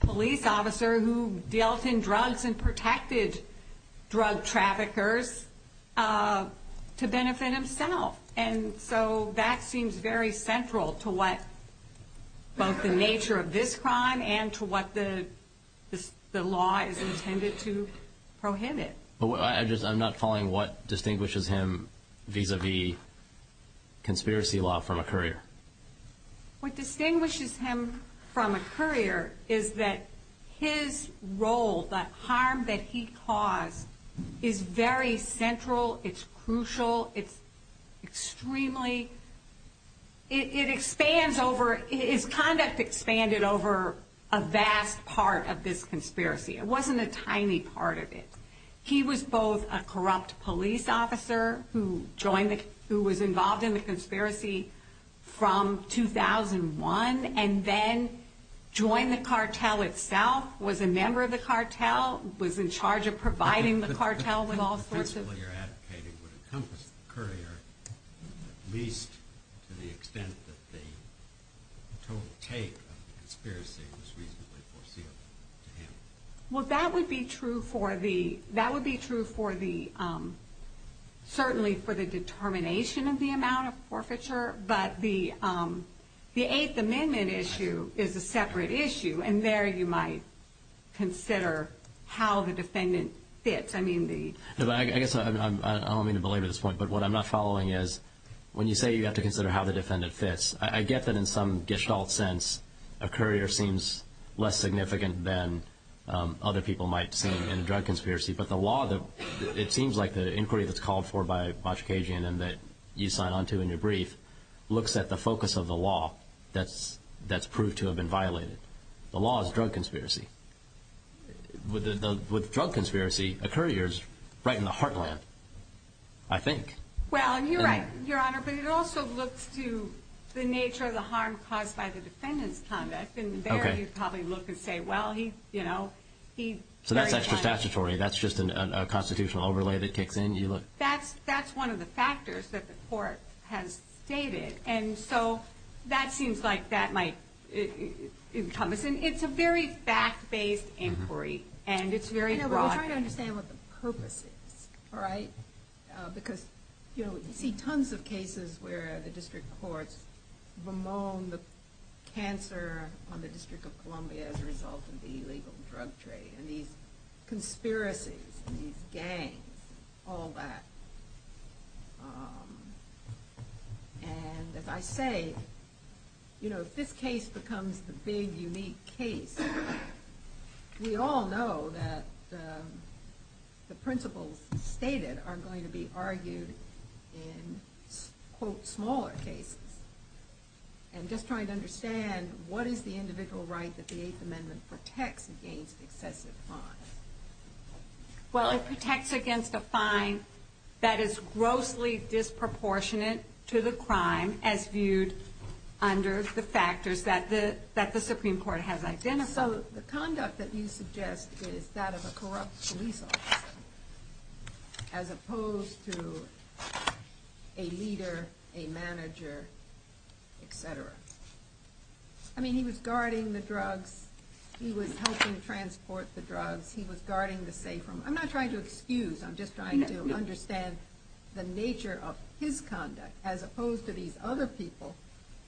police officer who dealt in drugs and protected drug traffickers to benefit himself. And so that seems very central to what both the nature of this crime and to what the law is intended to prohibit. I'm not following what distinguishes him vis-a-vis conspiracy law from a courier. What distinguishes him from a courier is that his role, the harm that he caused, is very central. It's crucial. It's extremely, it expands over, his conduct expanded over a vast part of this conspiracy. It wasn't a tiny part of it. He was both a corrupt police officer who was involved in the conspiracy from 2001 and then joined the cartel itself, was a member of the cartel, was in charge of providing the cartel with all sorts of... The principle you're advocating would encompass the courier, at least to the extent that the total take of the conspiracy was reasonably foreseeable to him. That would be true for the determination of the amount of forfeiture, but the Eighth Amendment issue is a separate issue, and there you might consider how the defendant fits. I don't mean to belabor this point, but what I'm not following is when you say to consider how the defendant fits, I get that in some gestalt sense, a courier seems less significant than other people might see in a drug conspiracy, but the law, it seems like the inquiry that's called for by Bochkajian and that you sign on to in your brief looks at the focus of the law that's proved to have been violated. The law is drug conspiracy. With drug conspiracy, a courier is right in the heartland, I think. Well, you're right, Your Honor, but it also looks to the nature of the harm caused by the defendant's conduct, and there you'd probably look and say, well, he... So that's extra statutory, that's just a constitutional overlay that kicks in? That's one of the factors that the court has stated, and so that seems like that might encompass, and it's a very fact-based inquiry, and it's very broad. I know, but we're trying to understand what the purpose is, all right? Because, you know, we see tons of cases where the district courts bemoan the cancer on the District of Columbia as a result of the illegal drug trade, and these conspiracies, and these gangs, all that. And as I say, you know, if this case becomes the big, unique case, we all know that the principles stated are going to be argued in, quote, smaller cases. And just trying to understand, what is the individual right that the Eighth Amendment protects against excessive fines? Well, it protects against a fine that is grossly disproportionate to the crime, as viewed under the factors that the Supreme Court has identified. So the conduct that you suggest is that of a corrupt police officer, as opposed to a leader, a manager, etc. I mean, he was guarding the drugs, he was helping transport the drugs, he was guarding the safe room. I'm not trying to excuse, I'm just trying to understand the nature of his conduct, as opposed to these other people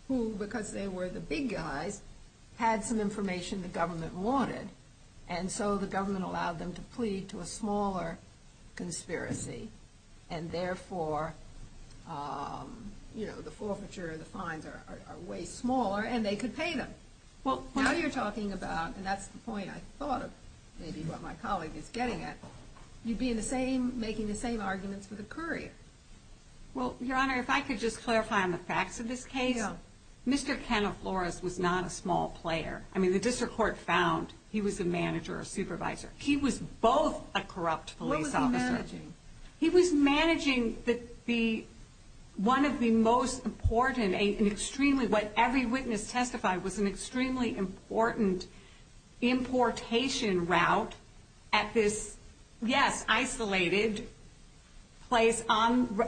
who, because they were the big guys, had some information the government wanted, and so the government allowed them to plead to a smaller conspiracy, and therefore, you know, the forfeiture, the fines are way smaller, and they could pay them. Now you're talking about, and that's the point I thought of, maybe what my colleague is getting at, you'd be making the same arguments with a courier. Well, Your Honor, if I could just clarify on the facts of this case, Mr. Canofloros was not a small player. I mean, the District Court found he was a manager or supervisor. He was both a corrupt police officer. He was managing one of the most important, an extremely, what every witness testified, was an extremely important importation route at this, yes, isolated place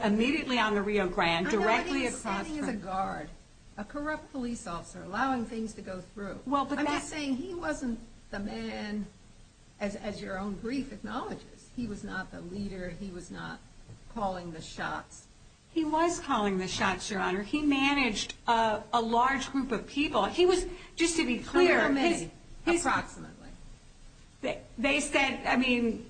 immediately on the Rio Grande, directly across from... I'm not even saying he was a guard. A corrupt police officer, allowing things to go through. I'm just saying he wasn't the man, as your own brief acknowledges, he was not the leader, he was not calling the shots. He was calling the shots, Your Honor. He managed a large group of people. Just to be clear... They said, I mean,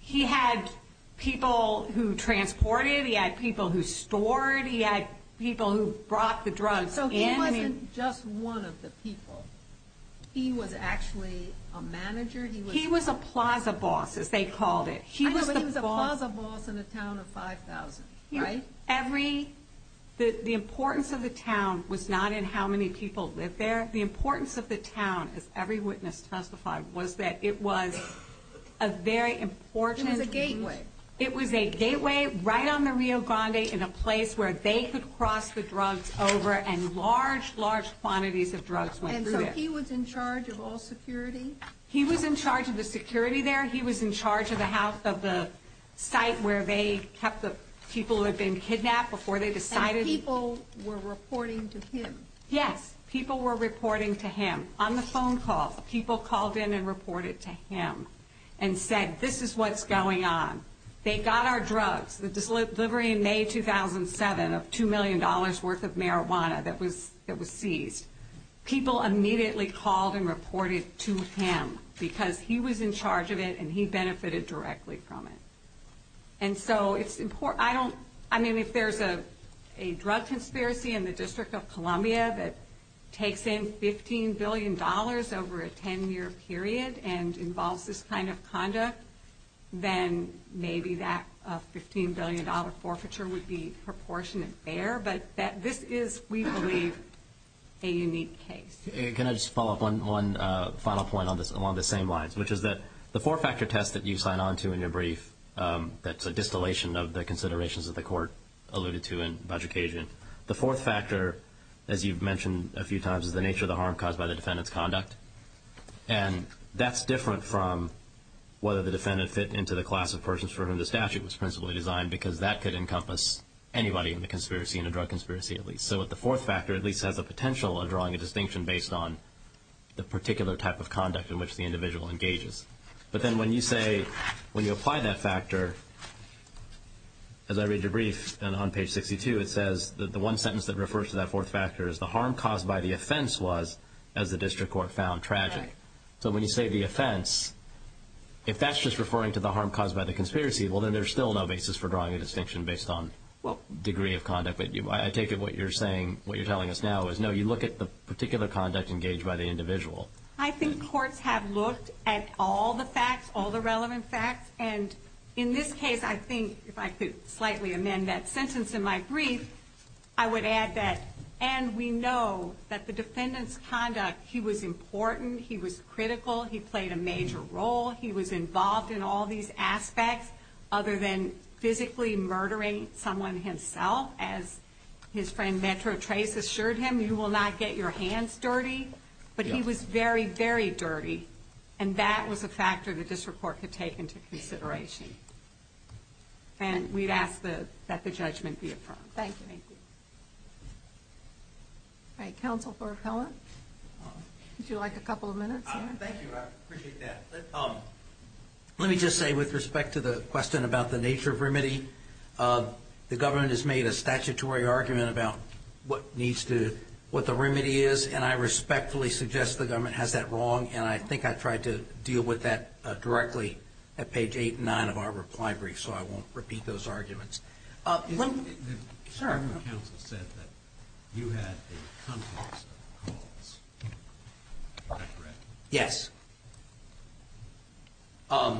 he had people who transported, he had people who stored, he had people who brought the drugs in. So he wasn't just one of the people. He was actually a manager? He was a plaza boss, as they called it. I know, but he was a plaza boss in a town of 5,000, right? The importance of the town was not in how many people lived there. The importance of the town, as every witness testified, was that it was a very important... It was a gateway. It was a gateway right on the Rio Grande in a place where they could cross the drugs over and large, large quantities of drugs went through there. And so he was in charge of all security? He was in charge of the security there. He was in charge of the site where they kept the people who had been kidnapped before they decided... And people were reporting to him? Yes, people were reporting to him. On the phone call, people called in and reported to him and said, this is what's going on. They got our drugs. The delivery in May 2007 of $2 million worth of marijuana that was seized. People immediately called and reported to him because he was in charge of it and he benefited directly from it. And so it's important... I don't... I mean, if there's a drug conspiracy in the District of Columbia that takes in $15 billion over a 10-year period and involves this kind of conduct, then maybe that $15 billion forfeiture would be proportionate there. But this is, we believe, a unique case. Can I just follow up on one final point along the same lines, which is that the four-factor test that you sign on to in your brief, that's a distillation of the considerations that the Court alluded to on budget occasion. The fourth factor, as you've mentioned a few times, is the nature of the harm caused by the defendant's conduct. And that's different from whether the defendant fit into the class of persons for whom the statute was principally designed, because that could encompass anybody in the drug conspiracy at least. So the fourth factor at least has the potential of drawing a distinction based on the particular type of conduct in which the individual engages. But then when you say, when you apply that factor, as I read your brief, and on page 62, it says that the one sentence that refers to that fourth factor is the harm caused by the offense was, as the District Court found, tragic. So when you say the offense, if that's just referring to the harm caused by the conspiracy, well, then there's still no basis for drawing a distinction based on degree of conduct. I take it what you're telling us now is, no, you look at the particular conduct engaged by the individual. I think courts have looked at all the facts, all the relevant facts. And in this case, I think if I could slightly amend that sentence in my brief, I would add that, and we know that the defendant's conduct, he was important, he was critical, he played a major role, he was involved in all these aspects, other than physically murdering someone himself, as his friend Metro Trace assured him, you will not get your hands dirty. But he was very, very dirty. And that was a factor the District Court could take into consideration. And we'd ask that the judgment be affirmed. Thank you. All right, Counsel for Appellant. Would you like a couple of minutes? Thank you. I appreciate that. Let me just say, with respect to the question about the nature of remedy, the government has made a statutory argument about what the remedy is, and I respectfully suggest the government has that wrong, and I think I tried to deal with that directly at page 8 and 9 of our reply brief, so I won't repeat those arguments. The Supreme Court counsel said that you had a complex of calls. Is that correct? Yes. Let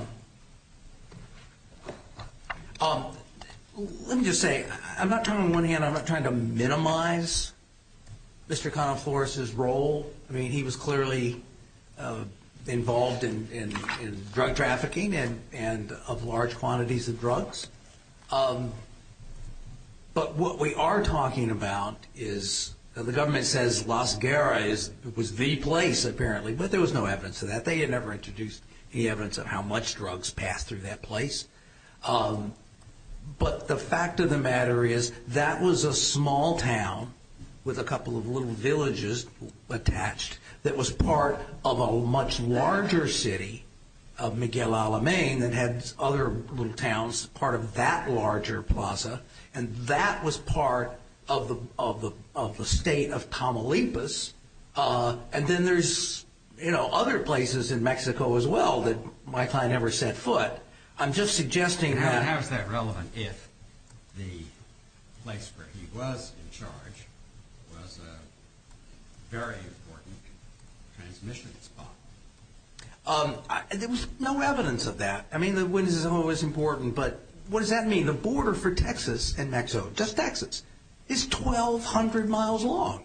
me just say, I'm not trying to, on the one hand, I'm not trying to minimize Mr. Connell Flores' role. I mean, he was clearly involved in drug trafficking and of large quantities of drugs. But what we are talking about is, the government says Las Guerra was the place, apparently, but there was no evidence of that. They had never introduced any evidence of how much drugs passed through that place. But the fact of the matter is, that was a small town, with a couple of little villages attached, that was part of a much larger city of Miguel Alamein that had other little towns part of that larger plaza, and that was part of the state of Tamaulipas. And then there's other places in Mexico as well that my client never set foot. But I'm just suggesting that... How is that relevant if the place where he was in charge was a very important transmission spot? There was no evidence of that. I mean, the witness is always important, but what does that mean? The border for Texas and Mexico, just Texas, is 1,200 miles long.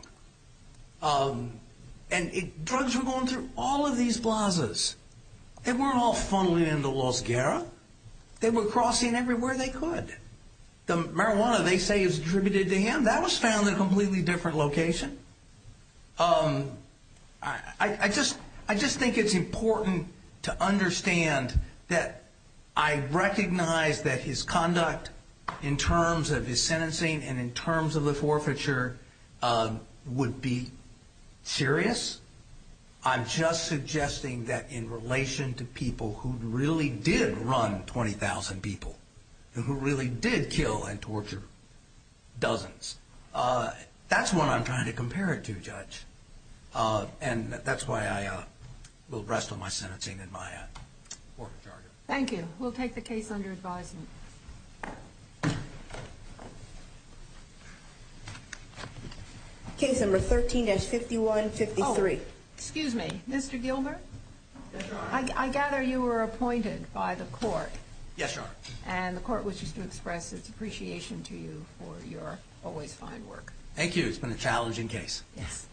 And drugs were going through all of these plazas. They weren't all funneling into Las Guerra. They were crossing everywhere they could. The marijuana, they say, is attributed to him. That was found in a completely different location. I just think it's important to understand that I recognize that his conduct, in terms of his sentencing and in terms of the forfeiture, would be serious. I'm just suggesting that in relation to people who really did run 20,000 people, who really did kill and torture dozens, that's what I'm trying to compare it to, Judge. And that's why I will rest on my sentencing and my forfeiture. Thank you. We'll take the case under advisement. Case number 13-5153. Oh, excuse me. Mr. Gilmer? Yes, Your Honor. I gather you were appointed by the court. Yes, Your Honor. And the court wishes to express its appreciation to you for your always fine work. Thank you. It's been a challenging case. Yes.